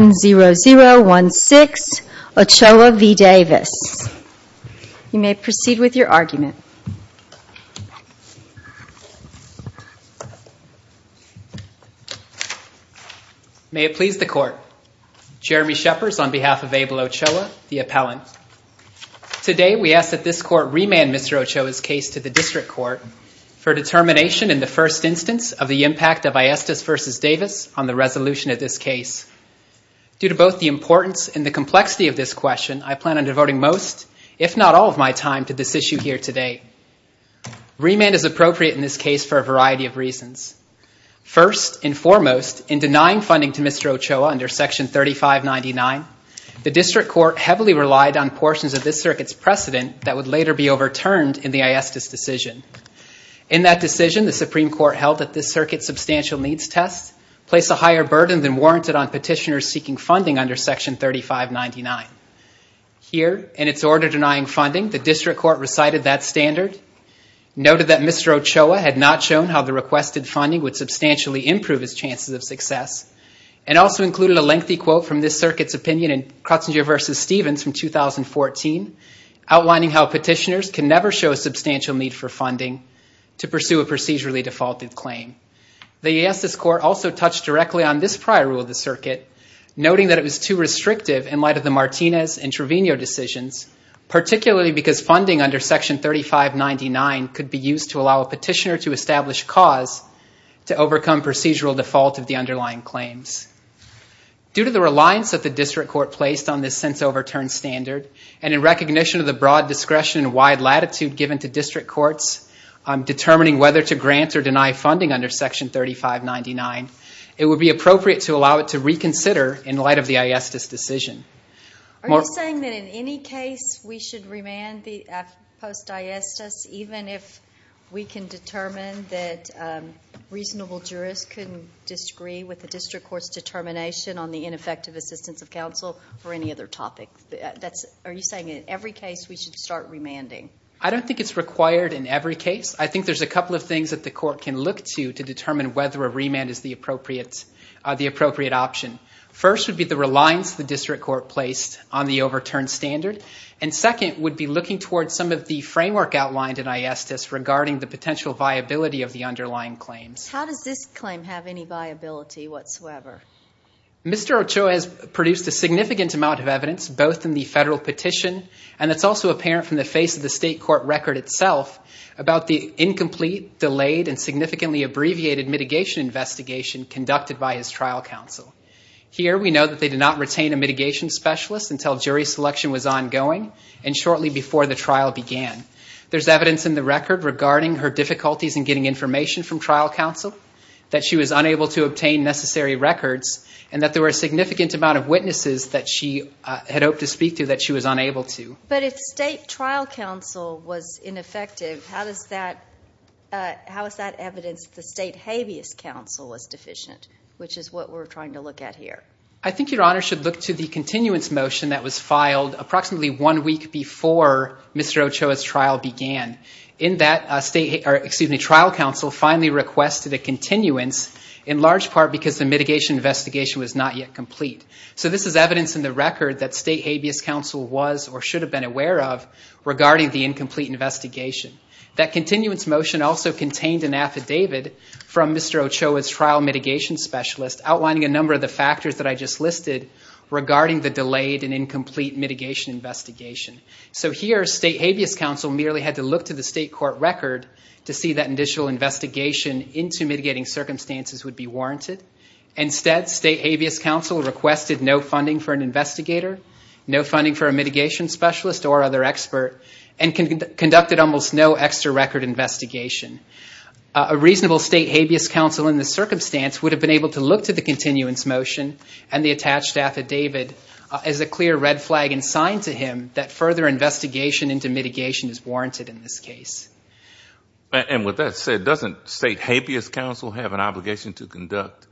0016 Ochoa v. Davis. You may proceed with your argument. May it please the Court. Jeremy Shepherds on behalf of Abel Ochoa, the Appellant. Today we ask that this Court remand Mr. Ochoa's case to the District Court for determination in the first instance of the impact of Aestas v. Davis on the resolution of this case. Due to both the importance and the complexity of this question, I plan on devoting most, if not all, of my time to this issue here today. Remand is appropriate in this case for a variety of reasons. First and foremost, in denying funding to Mr. Ochoa under Section 3599, the District Court heavily relied on portions of this circuit's precedent that would later be overturned in the Aestas decision. In that decision, the Supreme Court held that this circuit's substantial needs test placed a higher burden than warranted on petitioners seeking funding under Section 3599. Here, in its order denying funding, the District Court recited that standard, noted that Mr. Ochoa had not shown how the requested funding would substantially improve his chances of success, and also included a lengthy quote from this circuit's opinion in Crutzenger v. Stevens from 2014, outlining how petitioners can never show a substantial need for funding to pursue a procedurally defaulted claim. The Aestas Court also touched directly on this prior rule of the circuit, noting that it was too restrictive in light of the Martinez and Trevino decisions, particularly because funding under Section 3599 could be used to allow a petitioner to establish cause to overcome procedural default of the underlying claims. Due to the reliance that the District Court placed on this since-overturned standard, and in recognition of the broad discretion and wide latitude given to District Courts determining whether to grant or deny funding under Section 3599, it would be appropriate to allow it to reconsider in light of the Aestas decision. Are you saying that in any case, we should start remanding? I don't think it's required in every case. I think there's a couple of things that the Court can look to to determine whether a remand is the appropriate option. First would be the reliance the District Court placed on the overturned standard, and second would be looking towards some of the framework outlined in Aestas regarding the potential viability of the underlying claims. How does this claim have any viability whatsoever? Mr. Ochoa has produced a significant amount of evidence, both in the federal petition, and that's also apparent from the face of the State Court record itself, about the incomplete, delayed, and significantly abbreviated mitigation investigation conducted by his trial counsel. Here, we know that they did not retain a mitigation specialist until jury selection was ongoing and shortly before the trial began. There's evidence in the record regarding her difficulties in getting information from trial counsel, that she was unable to obtain necessary records, and that there were a significant amount of witnesses that she had hoped to speak to that she was unable to. But if state trial counsel was ineffective, how is that evidence that the state habeas counsel is deficient, which is what we're trying to look at here? I think Your Honor should look to the continuance motion that was filed approximately one week before Mr. Ochoa's trial began. In that, trial counsel finally requested a continuance, in large part because the mitigation investigation was not yet complete. So this is evidence in the record that state habeas counsel was or should have been aware of regarding the incomplete investigation. That continuance motion also contained an affidavit from Mr. Ochoa's trial mitigation specialist, outlining a number of the factors that I just listed regarding the delayed and incomplete mitigation investigation. So here, state habeas counsel merely had to look to the state court record to see that initial investigation into mitigating circumstances would be warranted. Instead, state habeas counsel requested no funding for an investigator, no funding for a mitigation specialist or other expert, and conducted almost no extra record investigation. A reasonable state habeas counsel in this circumstance would have been able to look to the continuance motion and the attached affidavit as a clear red flag and sign to him that further investigation into mitigation is warranted in this case. And with that said, doesn't state habeas counsel have an obligation to conduct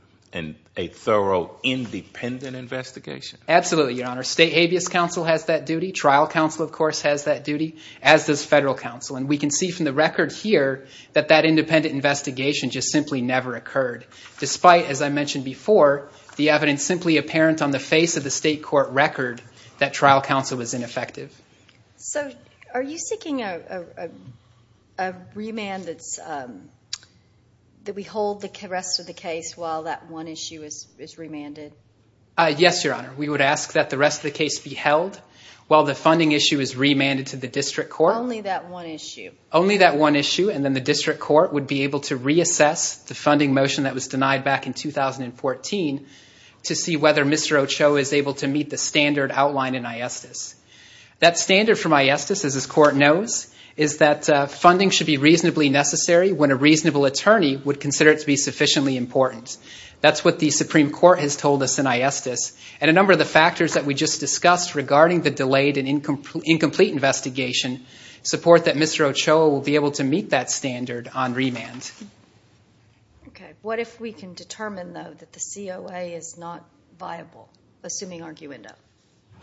a thorough independent investigation? Absolutely, Your Honor. State habeas counsel has that duty. Trial counsel, of course, has that duty, as does federal counsel. And we can see from the record here that that independent investigation just simply never occurred, despite, as I mentioned before, the evidence simply apparent on the face of the state court record that trial counsel was ineffective. So are you seeking a remand that we hold the rest of the case while that one issue is remanded? Yes, Your Honor. We would ask that the rest of the case be held while the funding issue is remanded to the district court. Only that one issue? Only that one issue, and then the district court would be able to reassess the funding motion that was denied back in 2014 to see whether Mr. Ochoa is able to meet the standard outlined in ISDIS. That standard from ISDIS, as this Court knows, is that funding should be reasonably necessary when a reasonable attorney would consider it to be sufficiently important. That's what the Supreme Court has told us in ISDIS, and a number of the factors that we just discussed regarding the delayed and incomplete investigation support that Mr. Ochoa will be able to meet that standard on remand. Okay. What if we can determine, though, that the COA is not viable, assuming arguendo?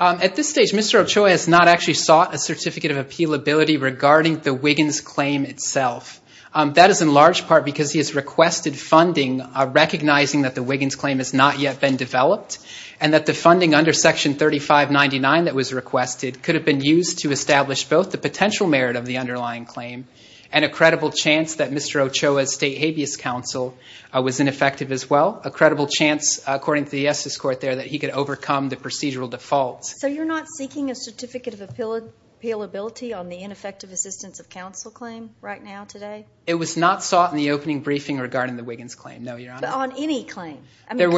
At this stage, Mr. Ochoa has not actually sought a certificate of appealability regarding the Wiggins claim itself. That is in large part because he has requested funding recognizing that the Wiggins claim has not yet been developed and that the funding under Section 3599 that was requested could have been used to establish both the potential merit of the underlying claim and a credible chance that Mr. Ochoa's state habeas counsel was ineffective as well, a credible chance, according to the ISDIS Court there, that he could overcome the procedural default. So you're not seeking a certificate of appealability on the ineffective assistance of counsel claim right now, today? It was not sought in the opening briefing regarding the Wiggins claim, no, Your Honor. On any claim? There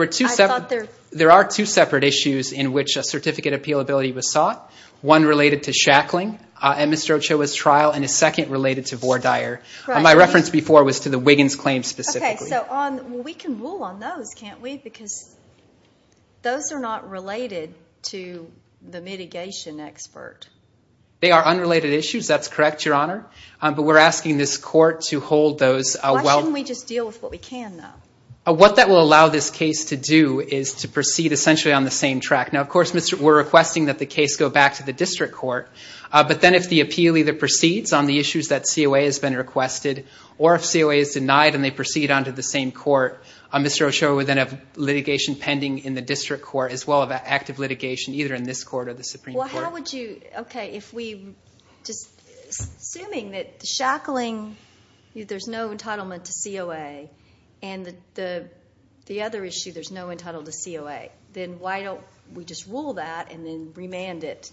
are two separate issues in which a certificate of appealability was sought, one related to shackling at Mr. Ochoa's trial and a second related to Vore Dyer. My reference before was to the Wiggins claim specifically. Okay. So we can rule on those, can't we? Because those are not related to the mitigation expert. They are unrelated issues. That's correct, Your Honor. But we're asking this Court to hold those. Why shouldn't we just deal with what we can, though? What that will allow this case to do is to we're requesting that the case go back to the district court. But then if the appeal either proceeds on the issues that COA has been requested or if COA is denied and they proceed on to the same court, Mr. Ochoa would then have litigation pending in the district court as well as active litigation either in this court or the Supreme Court. Well, how would you, okay, if we, just assuming that the shackling, there's no entitlement to COA and the other issue, there's no entitlement to COA, then why don't we just rule that and then remand it,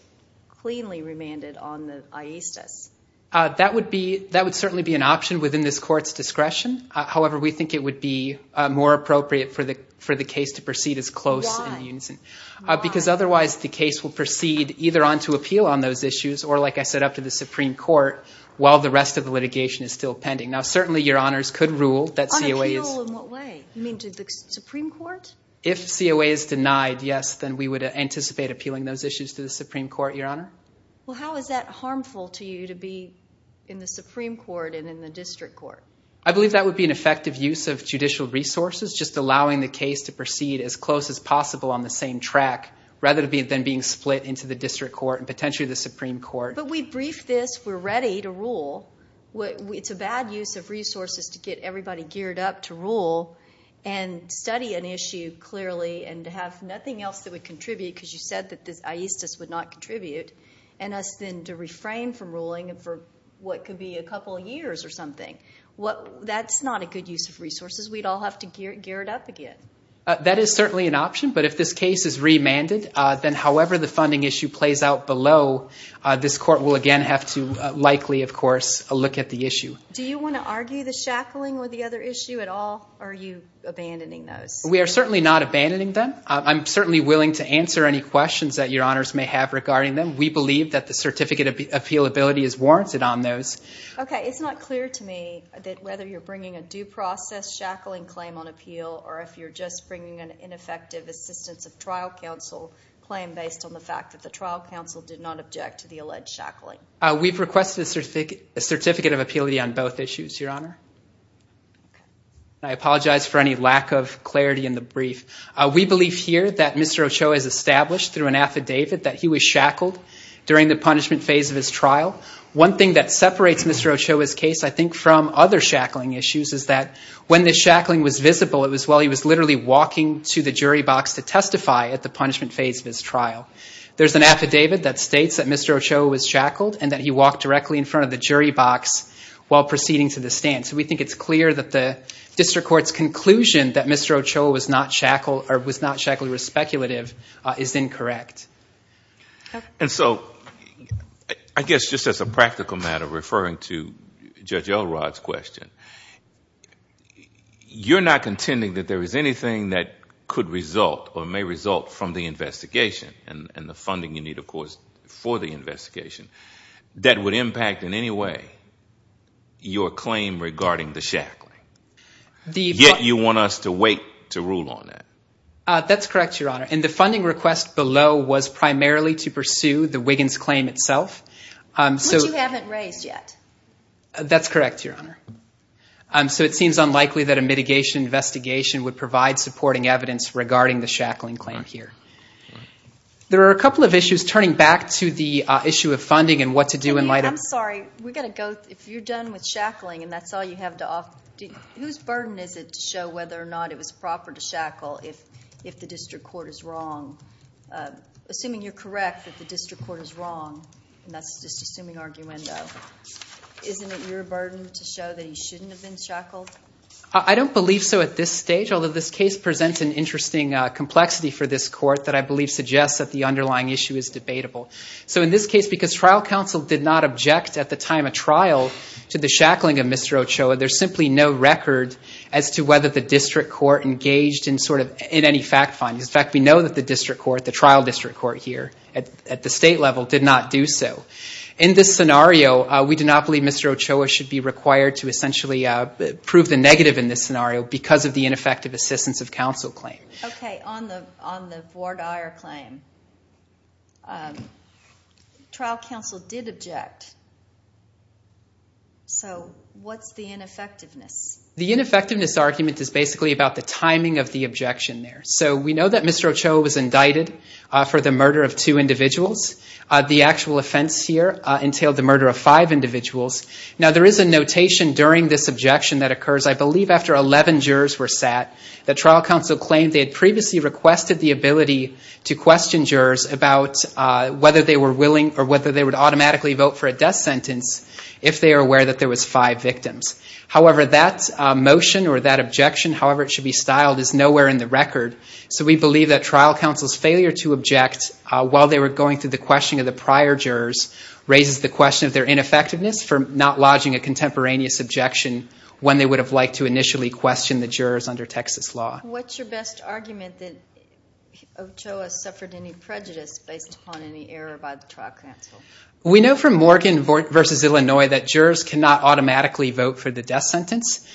cleanly remand it on the aesthes? That would be, that would certainly be an option within this court's discretion. However, we think it would be more appropriate for the case to proceed as close in the unison. Because otherwise the case will proceed either on to appeal on those issues or like I said up to the Supreme Court while the rest of the litigation is still pending. Now certainly Your Honors could rule that COA is... On appeal in what way? You mean to the Supreme Court? If COA is denied, yes, then we would anticipate appealing those issues to the Supreme Court, Your Honor. Well, how is that harmful to you to be in the Supreme Court and in the district court? I believe that would be an effective use of judicial resources, just allowing the case to proceed as close as possible on the same track rather than being split into the district court and potentially the Supreme Court. But we briefed this, we're ready to rule. It's a bad use of resources to get everybody geared up to rule and study an issue clearly and to have nothing else that would contribute because you said that this aesthetics would not contribute and us then to reframe from ruling for what could be a couple of years or something. That's not a good use of resources. We'd all have to gear it up again. That is certainly an option, but if this case is remanded, then however the funding issue plays out below, this court will again have to likely, of course, look at the issue. Do you want to argue the shackling with the other issue at all or are you abandoning those? We are certainly not abandoning them. I'm certainly willing to answer any questions that your honors may have regarding them. We believe that the certificate of appealability is warranted on those. Okay, it's not clear to me that whether you're bringing a due process shackling claim on appeal or if you're just bringing an ineffective assistance of trial counsel claim based on the fact that the trial counsel did not object to the alleged shackling. We've requested a certificate of appealability on both issues, your honor. I apologize for any lack of clarity in the brief. We believe here that Mr. Ochoa is established through an affidavit that he was shackled during the punishment phase of his trial. One thing that separates Mr. Ochoa's case, I think, from other shackling issues is that when the shackling was visible, it was while he was literally walking to the jury box to testify at the punishment phase of his trial. There's an affidavit that states that Mr. Ochoa was shackled and that he walked directly in front of the jury box while proceeding to the stand. So we think it's clear that the district court's conclusion that Mr. Ochoa was not shackled or was not shackled was speculative is incorrect. And so I guess just as a practical matter referring to Judge Elrod's question, you're not contending that there is anything that could result or may result from the investigation and the funding you need, of course, for the investigation that would impact in any way your claim regarding the shackling. Yet you want us to wait to rule on it. That's correct, Your Honor. And the funding request below was primarily to pursue the Wiggins claim itself. Which you haven't raised yet. That's correct, Your Honor. So it seems unlikely that a mitigation investigation would provide supporting evidence regarding the shackling claim here. There are a couple of issues turning back to the issue of funding and what to do in light of... I'm sorry. We've got to go... If you're done with shackling and that's all you have to offer, whose burden is it to show whether or not it was proper to shackle if the district court is wrong? Assuming you're correct that the district court is wrong, and that's just assuming arguendo, isn't it your burden to show that he shouldn't have been shackled? I don't believe so at this stage, although this case presents an interesting complexity for this court that I believe suggests that the underlying issue is debatable. So in this case, we object at the time of trial to the shackling of Mr. Ochoa. There's simply no record as to whether the district court engaged in any fact findings. In fact, we know that the district court, the trial district court here at the state level, did not do so. In this scenario, we do not believe Mr. Ochoa should be required to essentially prove the negative in this scenario because of the ineffective assistance of counsel claim. Okay, on the Vordire claim, trial counsel did object. So what's the ineffectiveness? The ineffectiveness argument is basically about the timing of the objection there. So we know that Mr. Ochoa was indicted for the murder of two individuals. The actual offense here entailed the murder of five individuals. Now there is a notation during this objection that occurs, I believe after 11 jurors were sat, that trial counsel claimed they had previously requested the ability to question jurors about whether they were willing or whether they would automatically vote for a death sentence if they were aware that there was five victims. However, that motion or that objection, however it should be styled, is nowhere in the record. So we believe that trial counsel's failure to object while they were going through the questioning of the prior jurors raises the question of their ineffectiveness for not making a peraneous objection when they would have liked to initially question the jurors under Texas law. What's your best argument that Ochoa suffered any prejudice based upon any error by the trial counsel? We know from Morgan v. Illinois that jurors cannot automatically vote for the death sentence.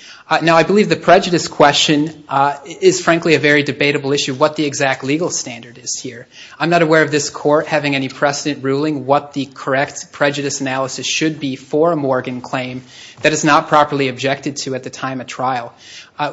Now I believe the prejudice question is frankly a very debatable issue, what the exact legal standard is here. I'm not aware of this court having any precedent ruling what the correct prejudice analysis should be for a Morgan claim that is not properly objected to at the time of trial.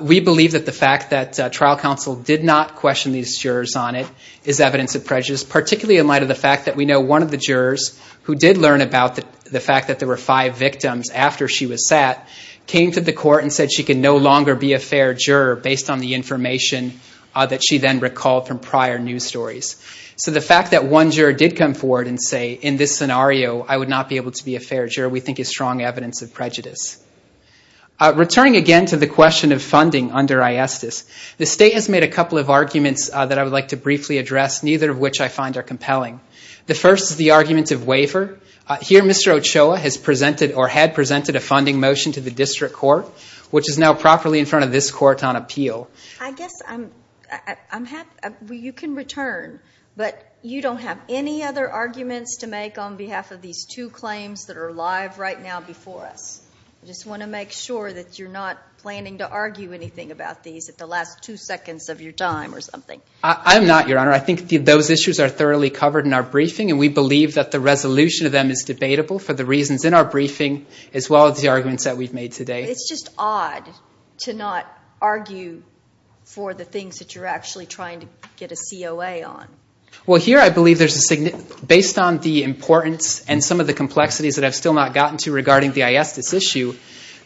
We believe that the fact that trial counsel did not question these jurors on it is evidence of prejudice, particularly in light of the fact that we know one of the jurors who did learn about the fact that there were five victims after she was sat, came to the court and said she could no longer be a fair juror based on the information that she then recalled from prior news stories. So the fact that one juror did come forward and say in this scenario I would not be able to be a fair juror we think is strong evidence of prejudice. Returning again to the question of funding under ISDIS, the state has made a couple of arguments that I would like to briefly address, neither of which I find are compelling. The first is the argument of waiver. Here Mr. Ochoa has presented or had presented a funding motion to the district court, which is now properly in front of this court on appeal. I guess I'm happy, you can return, but you don't have any other arguments to make on behalf of these two claims that are live right now before us. I just want to make sure that you're not planning to argue anything about these at the last two seconds of your time or something. I'm not, Your Honor. I think those issues are thoroughly covered in our briefing and we believe that the resolution of them is debatable for the reasons in our briefing as well as the arguments that we've made today. It's just odd to not argue for the things that you're actually trying to get a COA on. Well, here I believe there's a significant, based on the importance and some of the complexities that I've still not gotten to regarding the ISDIS issue,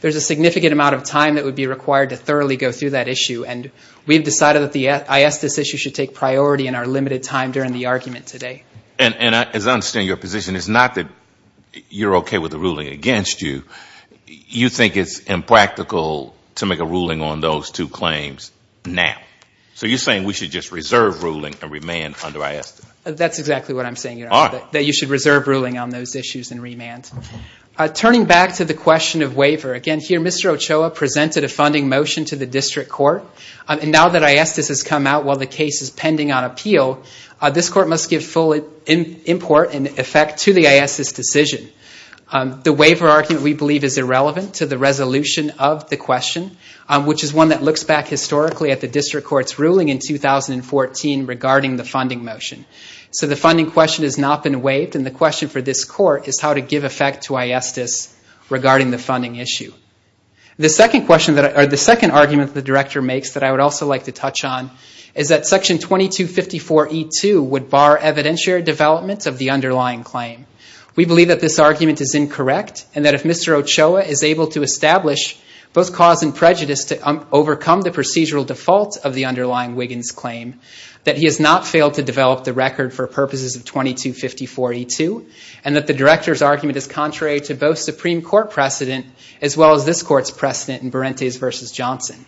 there's a significant amount of time that would be required to thoroughly go through that issue and we've decided that the ISDIS issue should take priority in our limited time during the argument today. And as I understand your position, it's not that you're okay with the ruling against you. You think it's impractical to make a ruling on those two claims now. So you're saying we should just reserve ruling and remand under ISDIS? That's exactly what I'm saying, Your Honor, that you should reserve ruling on those issues and remand. Turning back to the question of waiver, again here Mr. Ochoa presented a funding motion to the district court and now that ISDIS has come out while the case is pending on appeal, this court must give full import and effect to the ISDIS decision. The waiver argument we believe is irrelevant to the resolution of the question, which is one that looks back historically at the district court's ruling in 2014 regarding the funding motion. So the funding question has not been waived and the question for this court is how to give effect to ISDIS regarding the funding issue. The second argument that the Director makes that I would also like to touch on is that Section 2254E2 would bar evidentiary development of the underlying claim. We believe that this argument is incorrect and that if Mr. Ochoa is able to establish both cause and prejudice to overcome the procedural default of the underlying Wiggins claim, that he has not failed to develop the record for purposes of 2254E2 and that the Director's argument is contrary to both Supreme Court precedent as well as this court's precedent in Berentes v. Johnson.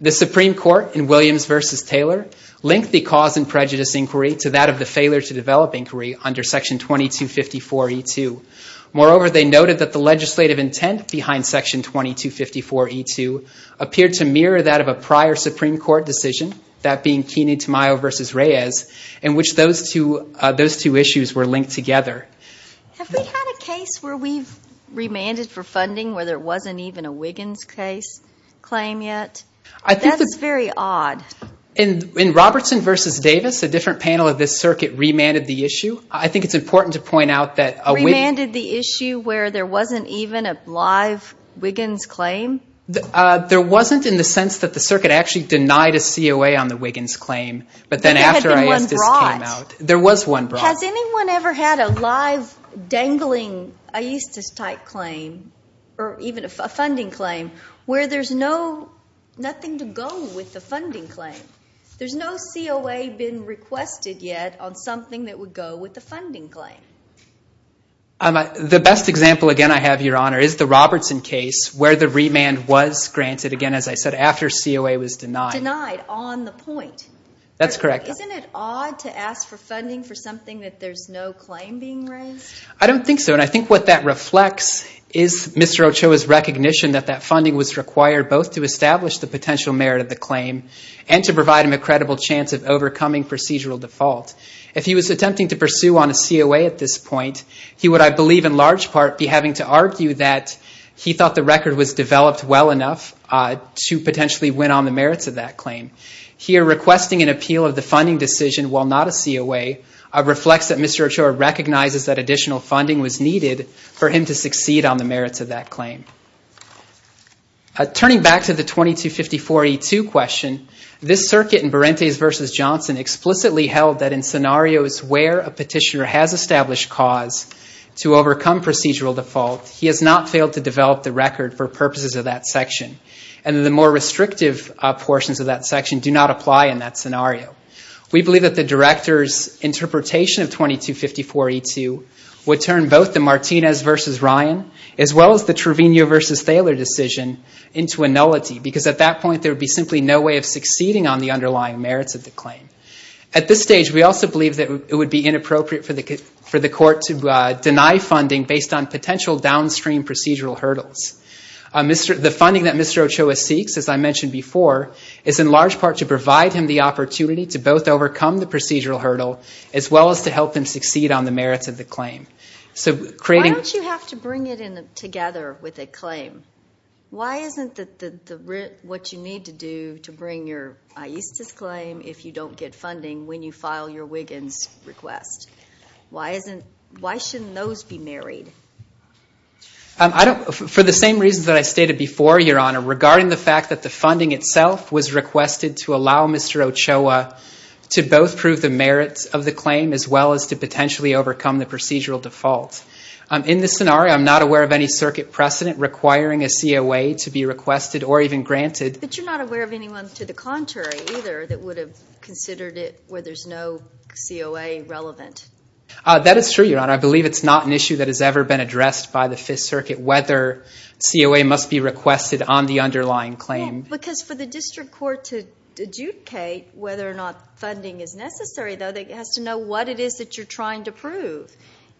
The Supreme Court in Williams v. Taylor linked the cause and prejudice inquiry to that of the failure to develop inquiry under Section 2254E2. Moreover they noted that the legislative intent behind Section 2254E2 appeared to mirror that of a prior Supreme Court decision, that being Kene Tamayo v. Reyes, in which those two issues were linked together. Have we had a case where we've remanded for funding where there wasn't even a Wiggins case claim yet? That's very odd. In Robertson v. Davis, a different panel of this circuit remanded the issue. I think it's important to point out that a Wiggins... Remanded the issue where there wasn't even a live Wiggins claim? There wasn't in the sense that the circuit actually denied a COA on the Wiggins claim, but then after... There had been one brought. There was one brought. Has anyone ever had a live dangling aesthetics type claim or even a funding claim where there's nothing to go with the funding claim? There's no COA been requested yet on something that would go with the funding claim. The best example again I have, Your Honor, is the Robertson case where the remand was granted, again as I said, after COA was denied. Denied on the point. That's correct. Isn't it odd to ask for funding for something that there's no claim being raised? I don't think so, and I think what that reflects is Mr. Ochoa's recognition that that funding was required both to establish the potential merit of the claim and to provide him a credible chance of overcoming procedural default. If he was attempting to pursue on a COA at this point, he would, I believe, in large part be having to argue that he thought the record was developed well enough to potentially win on the merits of that claim. Here requesting an appeal of the funding decision while not a COA reflects that Mr. Ochoa recognizes that additional funding was needed for him to succeed on the merits of that claim. Turning back to the 2254E2 question, this circuit in Berentes v. Johnson explicitly held that in scenarios where a petitioner has established cause to overcome procedural default, he has not failed to develop the record for purposes of that section, and that the more restrictive portions of that section do not apply in that scenario. We believe that the Director's interpretation of 2254E2 would turn both the Martinez v. Ryan as well as the Trevino v. Thaler decision into a nullity, because at that point there would be simply no way of succeeding on the underlying merits of the claim. At this stage, we also believe that it would be inappropriate for the court to deny funding based on potential downstream procedural hurdles. The funding that Mr. Ochoa seeks, as I mentioned before, is in large part to provide him the opportunity to both overcome the procedural hurdle as well as to help him succeed on the merits of the claim. Why don't you have to bring it together with a claim? Why isn't what you need to do to bring your AISTIS claim if you don't get funding when you file your Wiggins request? Why shouldn't those be married? For the same reasons that I stated before, Your Honor, regarding the fact that the funding itself was requested to allow Mr. Ochoa to both prove the merits of the claim as well as to potentially overcome the procedural default. In this scenario, I'm not aware of any circuit precedent requiring a COA to be requested or even granted. But you're not aware of anyone to the contrary either that would have considered it where there's no COA relevant? That is true, Your Honor. I believe it's not an issue that has ever been addressed by the Fifth Circuit whether COA must be requested on the underlying claim. Yes, because for the district court to adjudicate whether or not funding is necessary, though, it has to know what it is that you're trying to prove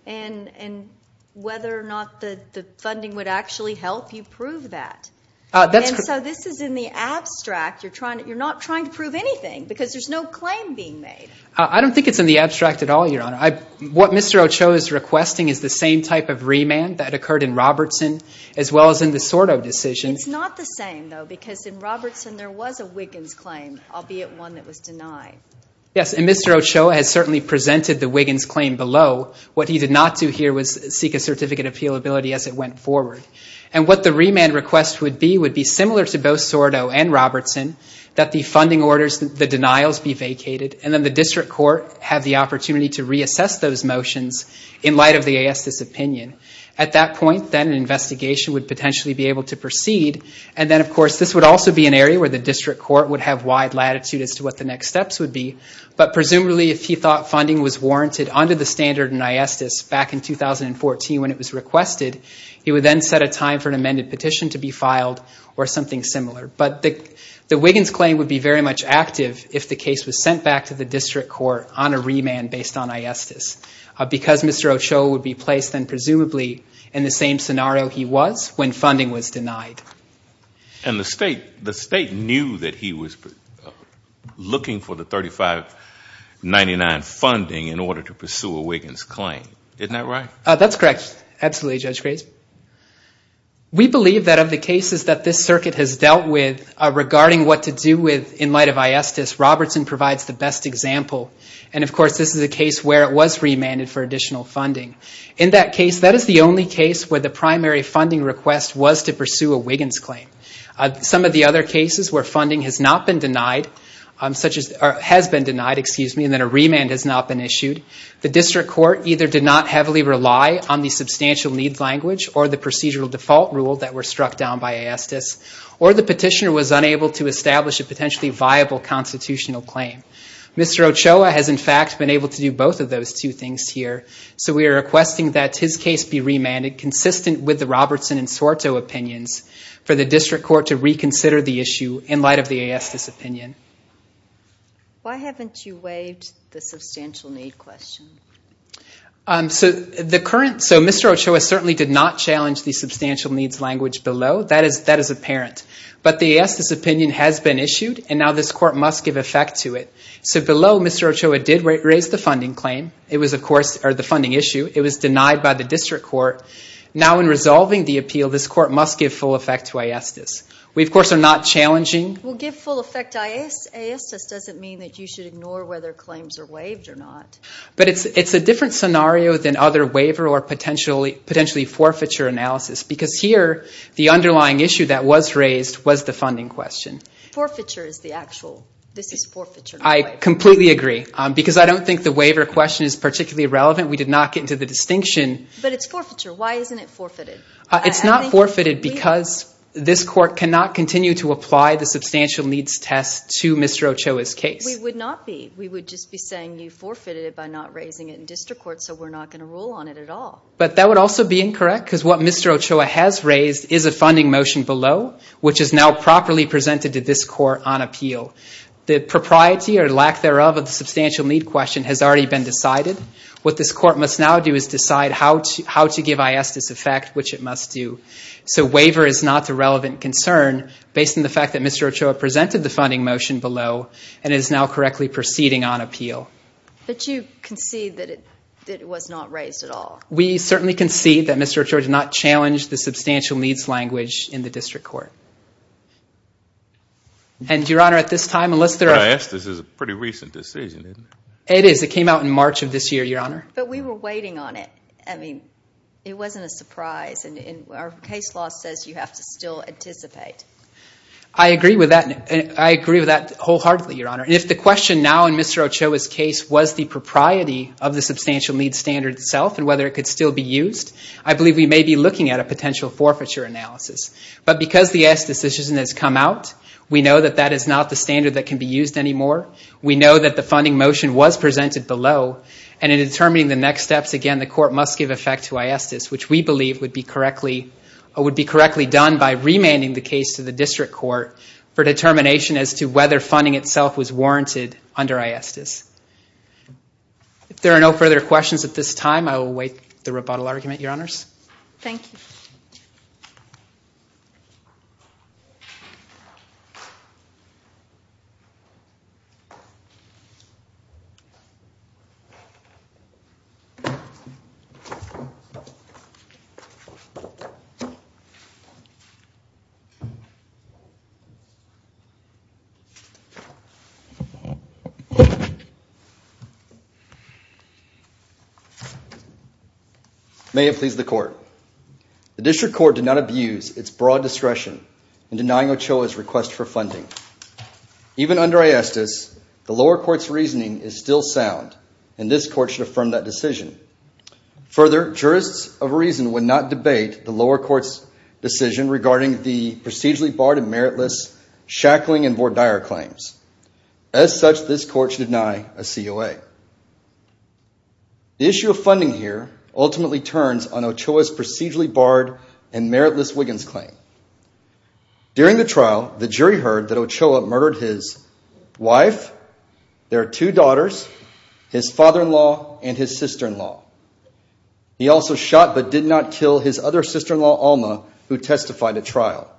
and whether or not the funding would actually help you prove that. And so this is in the abstract. You're not trying to prove anything because there's no claim being made. I don't think it's in the abstract at all, Your Honor. What Mr. Ochoa is requesting is the same type of remand that occurred in Robertson as well as in the Sordo decision. It's not the same, though, because in Robertson there was a Wiggins claim, albeit one that was denied. Yes, and Mr. Ochoa has certainly presented the Wiggins claim below. What he did not do here was seek a certificate of appealability as it went forward. And what the remand request would be would be similar to both Sordo and Robertson, that the funding orders, the denials be vacated, and then the district court have the opportunity to reassess those motions in light of the aesthetics opinion. At that point, then, an investigation would potentially be able to proceed. And then, of course, this would also be an area where the district court would have wide latitude as to what the next steps would be. But presumably, if he thought funding was warranted under the standard in aesthetics back in 2014 when it was requested, he would then set a time for an amended petition to be filed or something similar. But the Wiggins claim would be very much active if the case was sent back to the district court on a remand based on aesthetics. Because Mr. Ochoa would be placed then presumably in the same scenario he was when funding was denied. And the state knew that he was looking for the $35.99 funding in order to pursue a Wiggins claim. Isn't that right? That's correct. Absolutely, Judge Grace. We believe that of the cases that this circuit has dealt with regarding what to do with in light of aesthetics, Robertson provides the best example. And of course, this is a case where it was remanded for additional funding. In that case, that is the only case where the primary funding request was to pursue a Wiggins claim. Some of the other cases where funding has not been denied, has been denied, excuse me, and then a remand has not been issued, the district court either did not heavily rely on the substantial need language or the procedural default rule that were struck down by Aesthes, or the petitioner was unable to establish a potentially viable constitutional claim. Mr. Ochoa has in fact been able to do both of those two things here. So we are requesting that his case be remanded consistent with the Robertson and Sorto opinions for the district court to reconsider the issue in light of the Aesthes opinion. Why haven't you waived the substantial need question? Mr. Ochoa certainly did not challenge the substantial needs language below. That is apparent. But the Aesthes opinion has been issued and now this court must give effect to it. So below, Mr. Ochoa did raise the funding claim, it was of course, or the funding issue. It was denied by the district court. Now in resolving the appeal, this court must give full effect to Aesthes. We of course are not challenging. Well, give full effect to Aesthes doesn't mean that you should ignore whether claims are waived or not. But it's a different scenario than other waiver or potentially forfeiture analysis. Because here, the underlying issue that was raised was the funding question. Forfeiture is the actual, this is forfeiture. I completely agree. Because I don't think the waiver question is particularly relevant. We did not get into the distinction. But it's forfeiture. Why isn't it forfeited? It's not forfeited because this court cannot continue to apply the substantial needs test to Mr. Ochoa's case. We would not be. We would just be saying you forfeited it by not raising it in district court so we're not going to rule on it at all. But that would also be incorrect because what Mr. Ochoa has raised is a funding motion below which is now properly presented to this court on appeal. The propriety or lack thereof of the substantial need question has already been decided. What this court must now do is decide how to give Aesthes effect, which it must do. So waiver is not a relevant concern based on the fact that Mr. Ochoa presented the funding motion below and is now correctly proceeding on appeal. But you concede that it was not raised at all. We certainly concede that Mr. Ochoa did not challenge the substantial needs language in the district court. And Your Honor, at this time, unless there are... But Aesthes is a pretty recent decision, isn't it? It is. It came out in March of this year, Your Honor. But we were waiting on it. I mean, it wasn't a surprise and our case law says you have to still anticipate. I agree with that wholeheartedly, Your Honor. If the question now in Mr. Ochoa's case was the propriety of the substantial needs standard itself and whether it could still be used, I believe we may be looking at a potential forfeiture analysis. But because the Aesthes decision has come out, we know that that is not the standard that can be used anymore. We know that the funding motion was presented below and in determining the next steps, again, the court must give effect to Aesthes, which we believe would be correctly done by remanding the case to the district court for determination as to whether funding itself was warranted under Aesthes. If there are no further questions at this time, I will await the rebuttal argument, Your Honors. Thank you. May it please the court. The district court did not abuse its broad discretion in denying Ochoa's request for funding. Even under Aesthes, the lower court's reasoning is still sound and this court should affirm that decision. Further, jurists of reason would not debate the lower court's decision regarding the procedurally barred and meritless Shackling and Vordire claims. As such, this court should deny a COA. The issue of funding here ultimately turns on Ochoa's procedurally barred and meritless Wiggins claim. During the trial, the jury heard that Ochoa murdered his wife, their two daughters, his father-in-law, and his sister-in-law. He also shot but did not kill his other sister-in-law, Alma, who testified at trial.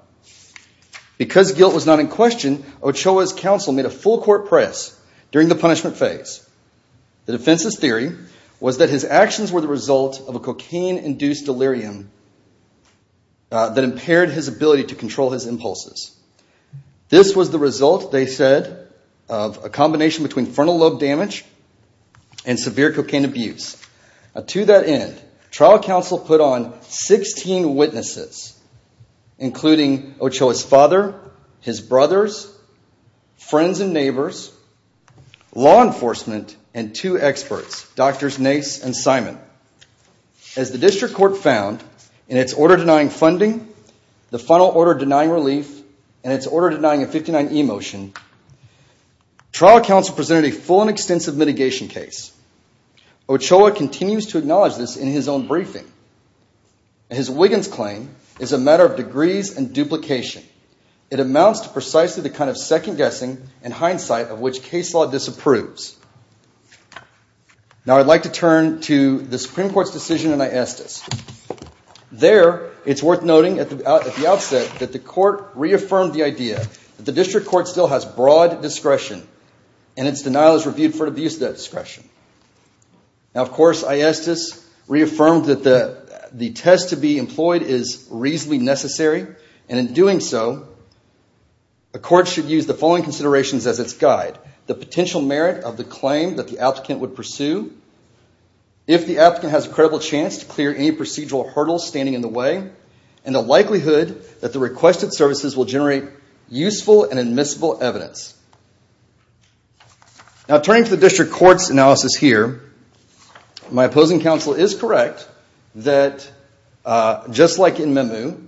Because guilt was not in question, Ochoa's counsel made a full court press during the punishment phase. The defense's theory was that his actions were the result of a cocaine-induced delirium that impaired his ability to control his impulses. This was the result, they said, of a combination between frontal lobe damage and severe cocaine abuse. To that end, trial counsel put on 16 witnesses, including Ochoa's father, his brothers, friends and neighbors, law enforcement, and two experts, Drs. Nace and Simon. As the district court found in its order denying funding, the final order denying relief, and its order denying a 59E motion, trial counsel presented a full and extensive mitigation case. Ochoa continues to acknowledge this in his own briefing. His Wiggins claim is a matter of degrees and duplication. It amounts to precisely the kind of second-guessing and hindsight of which case law disapproves. Now I'd like to turn to the Supreme Court's decision in Aestas. There it's worth noting at the outset that the court reaffirmed the idea that the district court still has broad discretion and its denial is reviewed for abuse of that discretion. Now of course, Aestas reaffirmed that the test to be employed is reasonably necessary and in doing so, the court should use the following considerations as its guide. The potential merit of the claim that the applicant would pursue, if the applicant has a credible chance to clear any procedural hurdles standing in the way, and the likelihood that the requested services will generate useful and admissible evidence. Now turning to the district court's analysis here, my opposing counsel is correct that just like in Memu,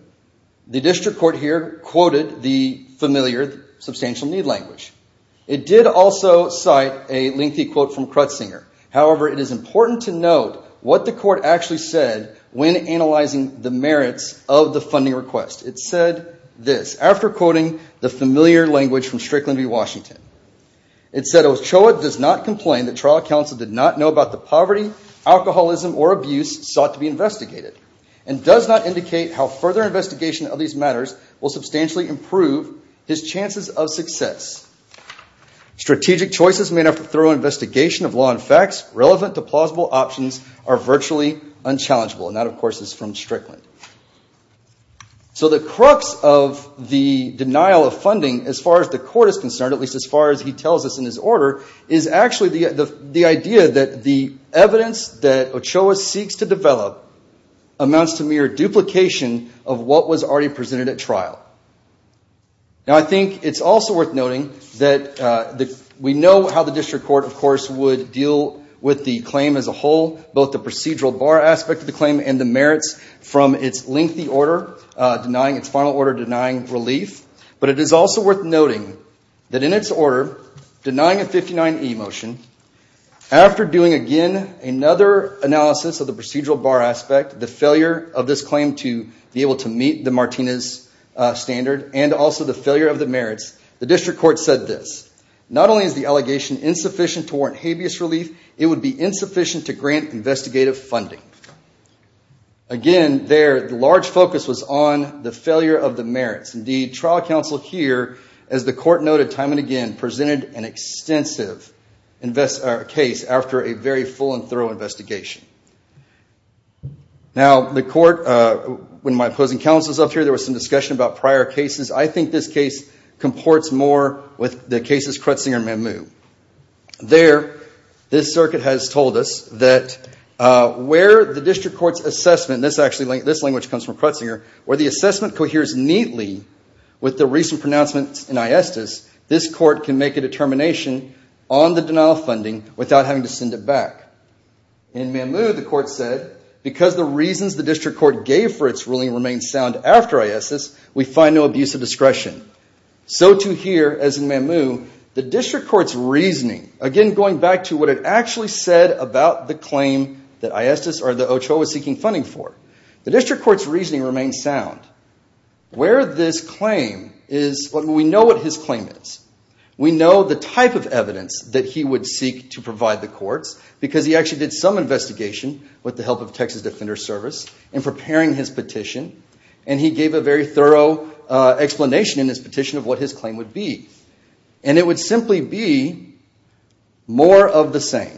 the district court here quoted the familiar substantial need language. It did also cite a lengthy quote from Crutsinger. However, it is important to note what the court actually said when analyzing the merits of the funding request. It said this, after quoting the familiar language from Strickland v. Washington. It said, Ochoa does not complain that trial counsel did not know about the poverty, alcoholism, or abuse sought to be investigated and does not indicate how further investigation of these matters will substantially improve his chances of success. Strategic choices made after thorough investigation of law and facts relevant to plausible options are virtually unchallengeable, and that, of course, is from Strickland. So the crux of the denial of funding, as far as the court is concerned, at least as far as he tells us in his order, is actually the idea that the evidence that Ochoa seeks to develop amounts to mere duplication of what was already presented at trial. Now I think it's also worth noting that we know how the district court, of course, would deal with the claim as a whole, both the procedural bar aspect of the claim and the merits from its lengthy order, denying its final order, denying relief. But it is also worth noting that in its order, denying a 59E motion, after doing again another analysis of the procedural bar aspect, the failure of this claim to be able to meet the Martinez standard, and also the failure of the merits, the district court said this. Not only is the allegation insufficient to warrant habeas relief, it would be insufficient to grant investigative funding. Again, their large focus was on the failure of the merits. Indeed, trial counsel here, as the court noted time and again, presented an extensive case after a very full and thorough investigation. Now the court, when my opposing counsel was up here, there was some discussion about prior cases. I think this case comports more with the cases Kretzinger and Mamou. There this circuit has told us that where the district court's assessment, this language comes from Kretzinger, where the assessment coheres neatly with the recent pronouncements in ISDIS, this court can make a determination on the denial funding without having to send it back. In Mamou, the court said, because the reasons the district court gave for its ruling remain sound after ISDIS, we find no abuse of discretion. So too here, as in Mamou, the district court's reasoning, again going back to what it actually said about the claim that ISDIS or the OCHO was seeking funding for, the district court's reasoning remains sound. Where this claim is, we know what his claim is. We know the type of evidence that he would seek to provide the courts, because he actually did some investigation with the help of Texas Defender Service in preparing his petition, and he gave a very thorough explanation in his petition of what his claim would be. And it would simply be more of the same.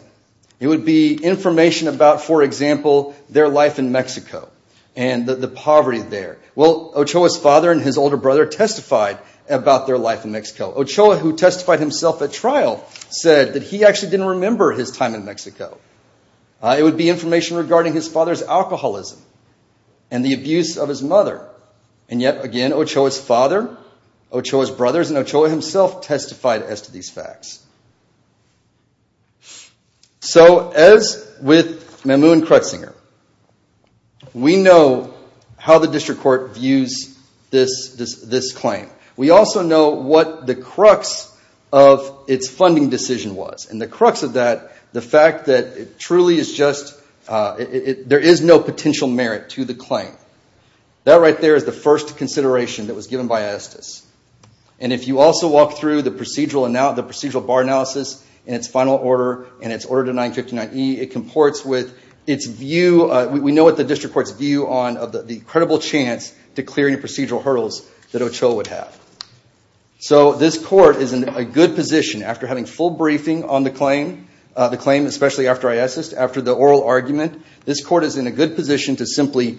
It would be information about, for example, their life in Mexico and the poverty there. Well, Ochoa's father and his older brother testified about their life in Mexico. Ochoa, who testified himself at trial, said that he actually didn't remember his time in Mexico. It would be information regarding his father's alcoholism and the abuse of his mother. And yet again, Ochoa's father, Ochoa's brothers, and Ochoa himself testified as to these facts. So as with Mamou and Kretzinger, we know how the district court views this claim. We also know what the crux of its funding decision was. And the crux of that, the fact that it truly is just, there is no potential merit to the claim. That right there is the first consideration that was given by Estes. And if you also walk through the procedural bar analysis in its final order, in its order to 959E, it comports with its view, we know what the district court's view on the credible chance to clear any procedural hurdles that Ochoa would have. So this court is in a good position, after having full briefing on the claim, the claim especially after Estes, after the oral argument, this court is in a good position to simply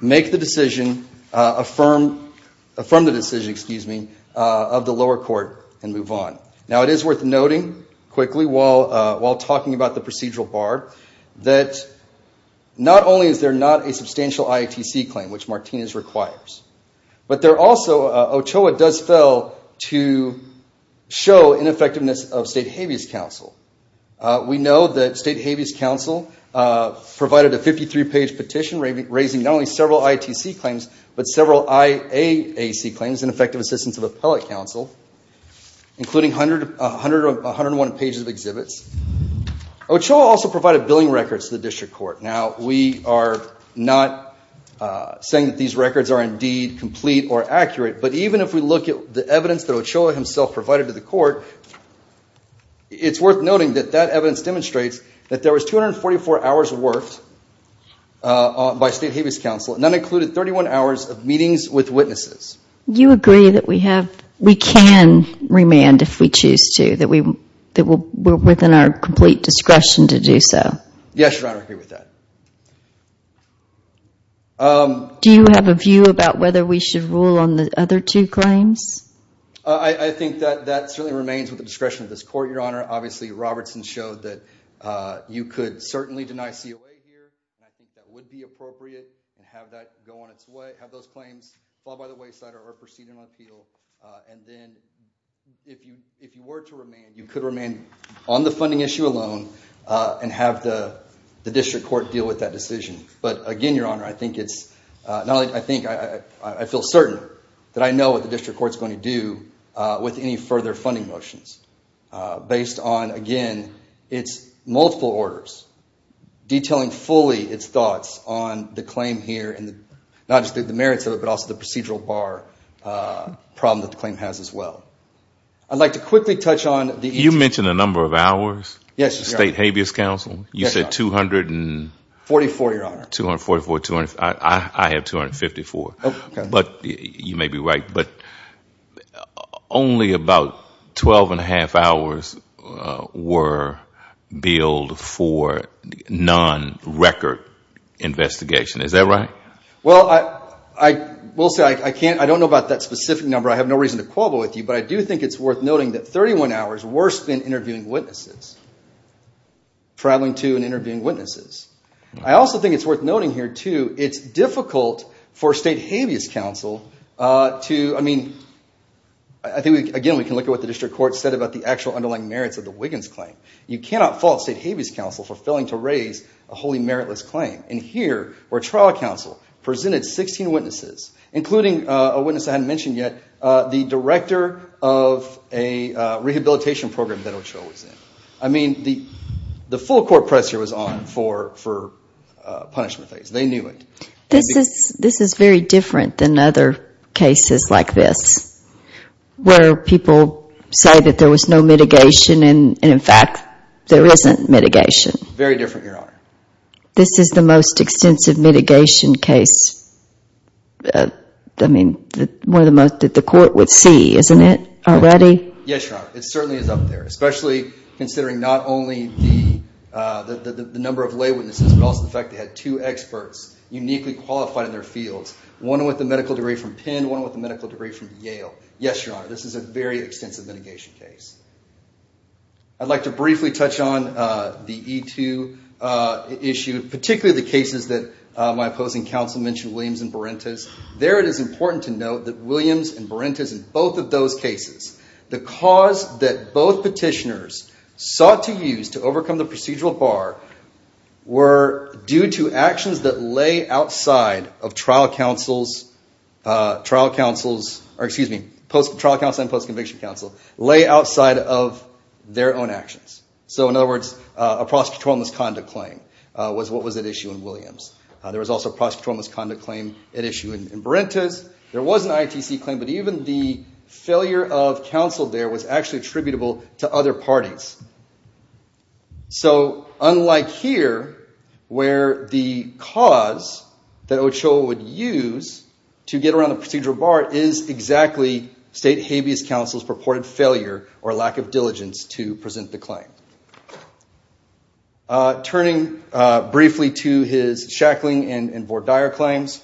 make the decision, affirm the decision, excuse me, of the lower court and move on. Now it is worth noting, quickly, while talking about the procedural bar, that not only is there not a substantial IATC claim, which Martinez requires. But there also, Ochoa does fail to show ineffectiveness of State Habeas Council. We know that State Habeas Council provided a 53-page petition raising not only several IATC claims, but several IAAC claims in effective assistance of Appellate Council, including 101 pages of exhibits. Ochoa also provided billing records to the district court. Now we are not saying that these records are indeed complete or accurate, but even if we look at the evidence that Ochoa himself provided to the court, it's worth noting that that evidence demonstrates that there was 244 hours worked by State Habeas Council, and that included 31 hours of meetings with witnesses. You agree that we can remand if we choose to, that we're within our complete discretion to do so? Yes, Your Honor, I agree with that. Do you have a view about whether we should rule on the other two claims? I think that that certainly remains within the discretion of this court, Your Honor. Obviously, Robertson showed that you could certainly deny COA here, and I think that would be appropriate, and have that go on its way, have those claims filed by the wayside or proceeded on appeal, and then if you were to remand, you could remand on the funding issue alone and have the district court deal with that decision. But again, Your Honor, I think it's... I feel certain that I know what the district court's going to do with any further funding motions based on, again, its multiple orders detailing fully its thoughts on the claim here, and not just the merits of it, but also the procedural bar problem that the claim has as well. I'd like to quickly touch on the... You mentioned the number of hours, State Habeas Council. You said 200... 44, Your Honor. 244. I have 254. But you may be right, but only about 12 and a half hours were billed for non-record investigation. Is that right? Well, I will say, I don't know about that specific number. I have no reason to quobble with you, but I do think it's worth noting that 31 hours is worse than interviewing witnesses, traveling to and interviewing witnesses. I also think it's worth noting here, too, it's difficult for State Habeas Council to... I mean, I think, again, we can look at what the district court said about the actual underlying merits of the Wiggins claim. You cannot fault State Habeas Council for failing to raise a wholly meritless claim. Here, where trial counsel presented 16 witnesses, including a witness I hadn't mentioned yet, the director of a rehabilitation program that Ochoa was in. I mean, the full court pressure was on for punishment phase. They knew it. This is very different than other cases like this, where people say that there was no mitigation and in fact, there isn't mitigation. Very different, Your Honor. This is the most extensive mitigation case... I mean, one of the most that the court would see, isn't it, already? Yes, Your Honor. It certainly is up there, especially considering not only the number of lay witnesses, but also the fact they had two experts uniquely qualified in their fields, one with a medical degree from Penn, one with a medical degree from Yale. Yes, Your Honor. This is a very extensive mitigation case. I'd like to briefly touch on the E2 issue, particularly the cases that my opposing counsel mentioned, Williams and Berentes. There, it is important to note that Williams and Berentes in both of those cases, the cause that both petitioners sought to use to overcome the procedural bar were due to actions that trial counsels... or, excuse me, trial counsel and post-conviction counsel lay outside of their own actions. In other words, a prosecutorial misconduct claim was what was at issue in Williams. There was also a prosecutorial misconduct claim at issue in Berentes. There was an ITC claim, but even the failure of counsel there was actually attributable to other parties. So, unlike here, where the cause that Ochoa would use to get around the procedural bar is exactly state habeas counsel's purported failure or lack of diligence to present the claim. Turning briefly to his Shackling and Vordire claims,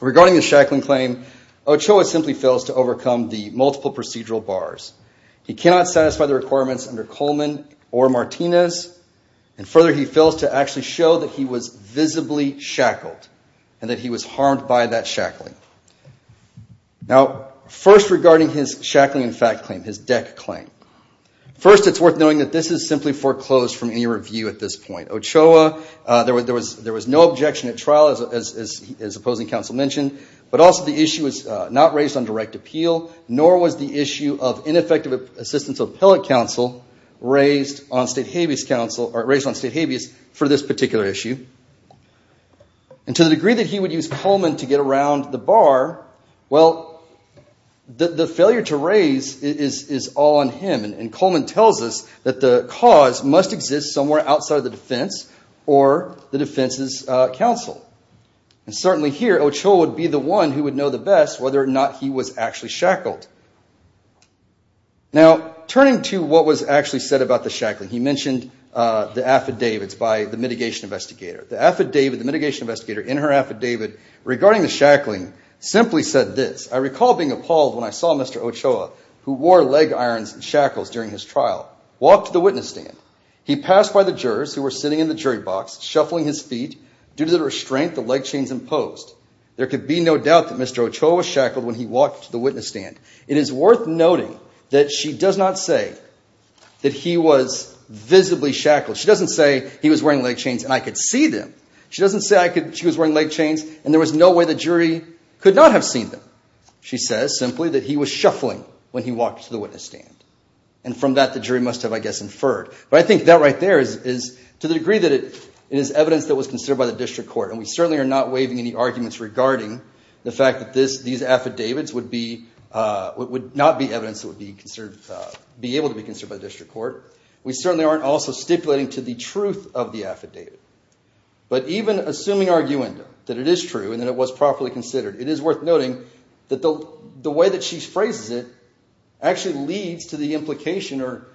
regarding the Shackling claim, Ochoa simply fails to overcome the multiple procedural bars. He cannot satisfy the requirements under Coleman or Martinez, and further, he fails to actually show that he was visibly shackled and that he was harmed by that shackling. Now, first regarding his Shackling and Fact claim, his DEC claim, first it's worth noting that this is simply foreclosed from any review at this point. Ochoa, there was no objection at trial, as opposing counsel mentioned, but also the issue was not raised on direct appeal, nor was the issue of ineffective assistance of appellate counsel raised on state habeas for this particular issue. To the degree that he would use Coleman to get around the bar, well, the failure to raise is all on him, and Coleman tells us that the cause must exist somewhere outside the defense or the defense's counsel. And certainly here, Ochoa would be the one who would know the best whether or not he was actually shackled. Now, turning to what was actually said about the Shackling, he mentioned the affidavits by the mitigation investigator. The affidavit, the mitigation investigator in her affidavit regarding the Shackling simply said this, I recall being appalled when I saw Mr. Ochoa, who wore leg irons and shackles during his trial, walk to the witness stand. He passed by the jurors who were sitting in the jury box, shuffling his feet due to the restraint the leg chains imposed. There could be no doubt that Mr. Ochoa was shackled when he walked to the witness stand. It is worth noting that she does not say that he was visibly shackled. She doesn't say he was wearing leg chains and I could see them. She doesn't say she was wearing leg chains and there was no way the jury could not have seen them. She says simply that he was shuffling when he walked to the witness stand. And from that, the jury must have, I guess, inferred. But I think that right there is to the degree that it is evidence that was considered by the district court and we certainly are not waiving any arguments regarding the fact that these affidavits would not be evidence that would be able to be considered by the district court. We certainly aren't also stipulating to the truth of the affidavit. But even assuming arguendo, that it is true and that it was properly considered, it is worth noting that the way that she phrases it actually leads to the implication or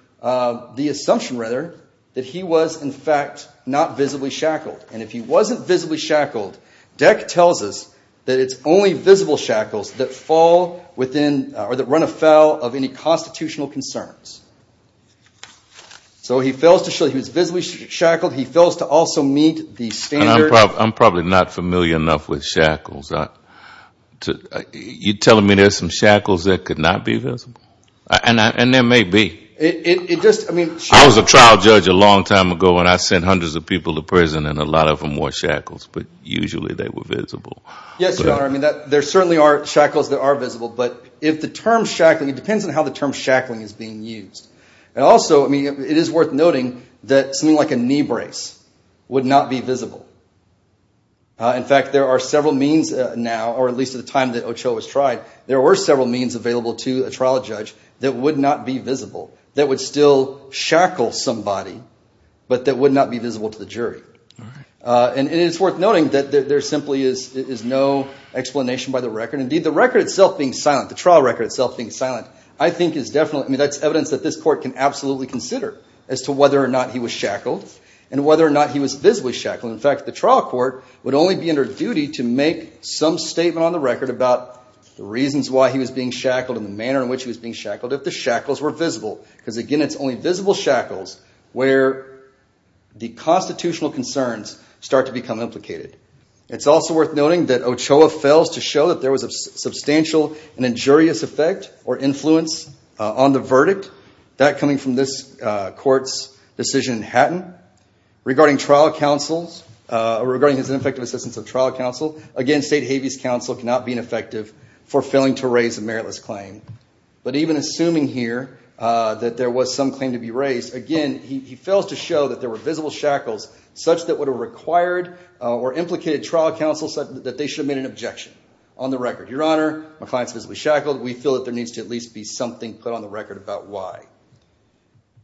the assumption, rather, that he was, in fact, not visibly shackled. And if he wasn't visibly shackled, Deck tells us that it's only visible shackles that fall within or that run afoul of any constitutional concerns. So he fails to show that he was visibly shackled. He fails to also meet the standard. I'm probably not familiar enough with shackles. You're telling me there's some shackles that could not be visible? And there may be. I was a trial judge a long time ago and I sent hundreds of people to prison in a lot of them wore shackles, but usually they were visible. Yes, Your Honor. I mean, there certainly are shackles that are visible. But if the term shackling, it depends on how the term shackling is being used. And also, I mean, it is worth noting that something like a knee brace would not be visible. In fact, there are several means now, or at least at the time that Ochoa was tried, there were several means available to a trial judge that would not be visible, that would still shackle somebody, but that would not be visible to the jury. And it's worth noting that there simply is no explanation by the record. Indeed, the record itself being silent, the trial record itself being silent, I think is definitely, I mean, that's evidence that this court can absolutely consider as to whether or not he was shackled and whether or not he was visibly shackled. In fact, the trial court would only be under duty to make some statement on the record about the reasons why he was being shackled and the manner in which he was being shackled if the shackles were visible, because again, it's only visible shackles where the constitutional concerns start to become implicated. It's also worth noting that Ochoa fails to show that there was a substantial and injurious effect or influence on the verdict. That coming from this court's decision in Hatton regarding trial counsels, regarding his ineffective assistance of trial counsel, again, state habeas counsel cannot be ineffective for failing to raise a meritless claim. But even assuming here that there was some claim to be raised, again, he fails to show that there were visible shackles such that would have required or implicated trial counsel such that they should have made an objection on the record. Your Honor, my client's visibly shackled. We feel that there needs to at least be something put on the record about why.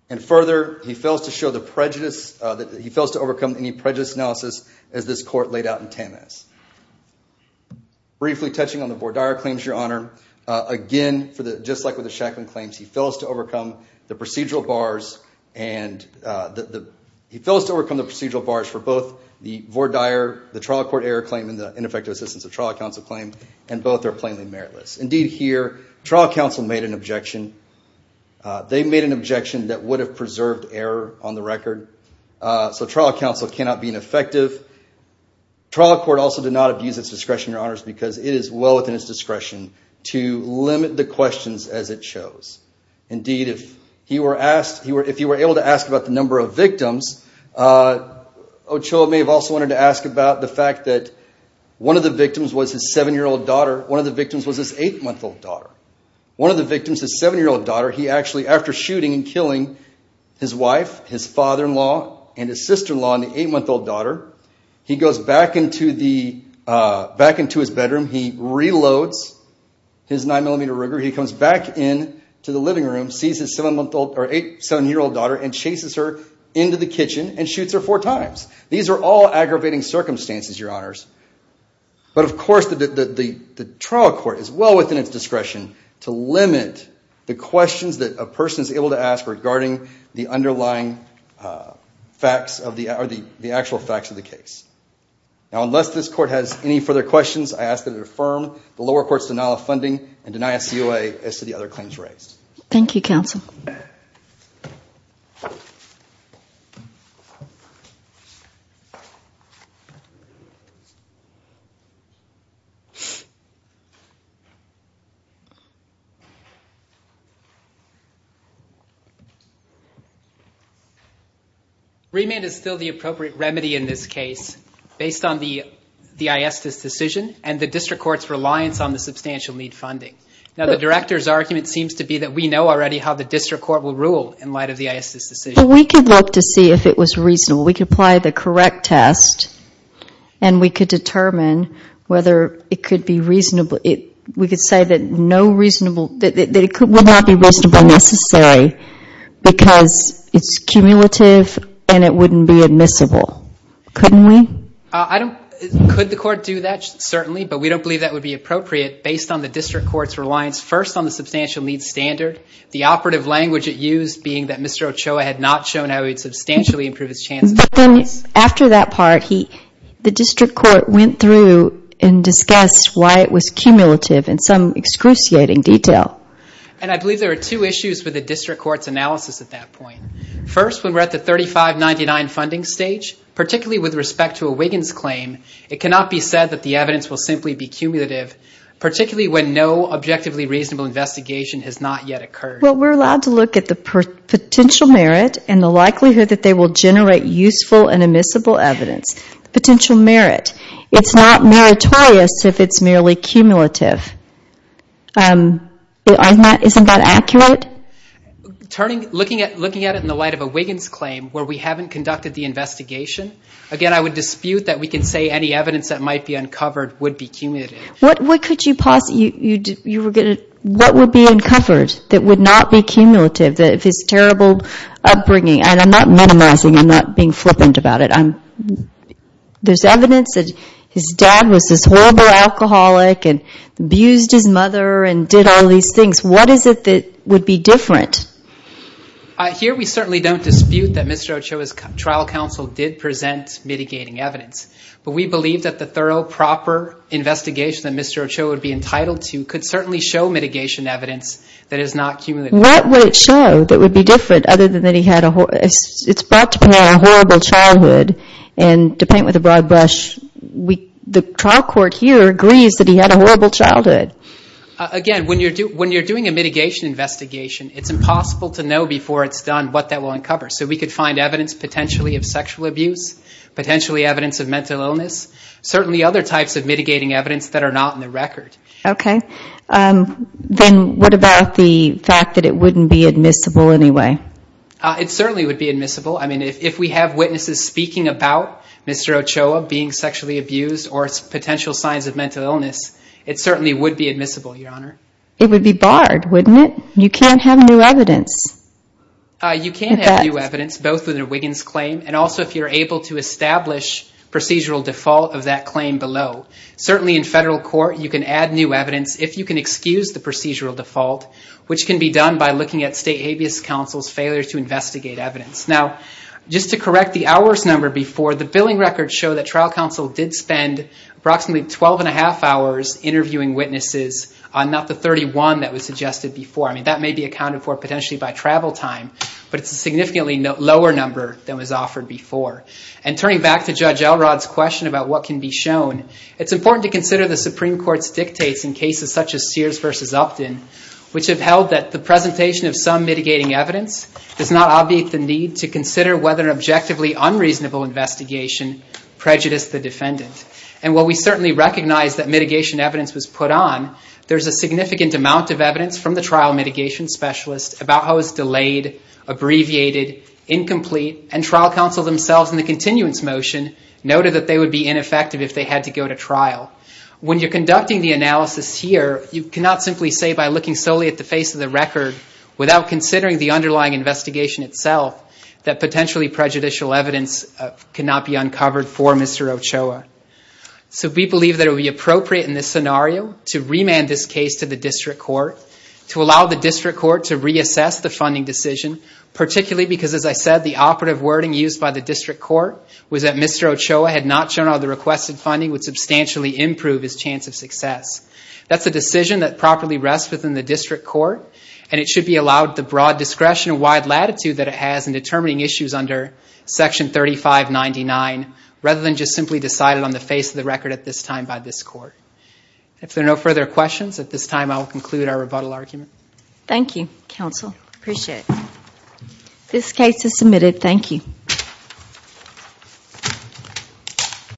And further, he fails to show the prejudice, he fails to overcome any prejudice analysis as this court laid out in Tammes. Briefly touching on the Vordire claims, Your Honor, again, just like with the Shacklin claims, he fails to overcome the procedural bars for both the Vordire, the trial court error claim and the ineffective assistance of trial counsel claim, and both are plainly meritless. Indeed, here, trial counsel made an objection. They made an objection that would have preserved error on the record. So trial counsel cannot be ineffective. Trial court also did not abuse its discretion, Your Honors, because it is well within its discretion to limit the questions as it shows. Indeed, if he were asked, if he were able to ask about the number of victims, Ochoa may have also wanted to ask about the fact that one of the victims was his seven-year-old daughter, one of the victims was his eight-month-old daughter. One of the victims, his seven-year-old daughter, he actually, after shooting and killing his He goes back into his bedroom, he reloads his 9mm Ruger, he comes back into the living room, sees his seven-year-old daughter and chases her into the kitchen and shoots her four times. These are all aggravating circumstances, Your Honors. But of course, the trial court is well within its discretion to limit the questions that a person is able to ask regarding the underlying facts or the actual facts of the case. Now unless this court has any further questions, I ask that it affirm the lower court's denial of funding and deny a COA as to the other claims raised. Thank you, counsel. Remand is still the appropriate remedy in this case based on the ISDIS decision and the district court's reliance on the substantial need funding. Now the director's argument seems to be that we know already how the district court will rule in light of the ISDIS decision. We could look to see if it was reasonable. We could apply the correct test and we could determine whether it could be reasonable. We could say that it would not be reasonable necessary because it's cumulative and it wouldn't be admissible. Couldn't we? Could the court do that? Certainly. But we don't believe that would be appropriate based on the district court's reliance first on the substantial need standard. The operative language it used being that Mr. Ochoa had not shown how he would substantially improve his chances. But then after that part, the district court went through and discussed why it was cumulative in some excruciating detail. And I believe there are two issues with the district court's analysis at that point. First when we're at the 3599 funding stage, particularly with respect to a Wiggins claim, it cannot be said that the evidence will simply be cumulative, particularly when no objectively reasonable investigation has not yet occurred. Well, we're allowed to look at the potential merit and the likelihood that they will generate useful and admissible evidence. Potential merit. It's not meritorious if it's merely cumulative. Isn't that accurate? Looking at it in the light of a Wiggins claim where we haven't conducted the investigation, again, I would dispute that we can say any evidence that might be uncovered would be cumulative. What would be uncovered that would not be cumulative if it's terrible upbringing? And I'm not minimizing, I'm not being flippant about it. There's evidence that his dad was this horrible alcoholic and abused his mother and did all these things. What is it that would be different? Here we certainly don't dispute that Mr. Ochoa's trial counsel did present mitigating evidence. But we believe that the thorough, proper investigation that Mr. Ochoa would be entitled to could certainly show mitigation evidence that is not cumulative. What would it show that would be different other than that he had a horrible childhood? And to paint with a broad brush, the trial court here agrees that he had a horrible childhood. Again, when you're doing a mitigation investigation, it's impossible to know before it's done what that will uncover. So we could find evidence potentially of sexual abuse, potentially evidence of mental illness, certainly other types of mitigating evidence that are not in the record. Okay. Then what about the fact that it wouldn't be admissible anyway? It certainly would be admissible. I mean, if we have witnesses speaking about Mr. Ochoa being sexually abused or potential signs of mental illness, it certainly would be admissible, Your Honor. It would be barred, wouldn't it? You can't have new evidence. You can have new evidence, both with a Wiggins claim and also if you're able to establish procedural default of that claim below. Certainly in federal court, you can add new evidence if you can excuse the procedural default, which can be done by looking at state habeas counsel's failure to investigate evidence. Now, just to correct the hours number before, the billing records show that trial counsel did spend approximately 12 and a half hours interviewing witnesses on not the 31 that was suggested before. I mean, that may be accounted for potentially by travel time, but it's a significantly lower number than was offered before. And turning back to Judge Elrod's question about what can be shown, it's important to consider the Supreme Court's dictates in cases such as Sears versus Upton, which have held that the presentation of some mitigating evidence does not obviate the need to consider whether an objectively unreasonable investigation prejudiced the defendant. And while we certainly recognize that mitigation evidence was put on, there's a significant amount of evidence from the trial mitigation specialist about how it was delayed, abbreviated, incomplete, and trial counsel themselves in the continuance motion noted that they would be ineffective if they had to go to trial. When you're conducting the analysis here, you cannot simply say by looking solely at the face of the record without considering the underlying investigation itself that potentially prejudicial evidence cannot be uncovered for Mr. Ochoa. So we believe that it would be appropriate in this scenario to remand this case to the district court, to allow the district court to reassess the funding decision, particularly because as I said, the operative wording used by the district court was that Mr. Ochoa had not shown how the requested funding would substantially improve his chance of success. That's a decision that properly rests within the district court, and it should be allowed the broad discretion and wide latitude that it has in determining issues under Section 3599, rather than just simply decided on the face of the record at this time by this court. If there are no further questions, at this time I will conclude our rebuttal argument. Thank you, counsel. I appreciate it. This case is submitted. Thank you.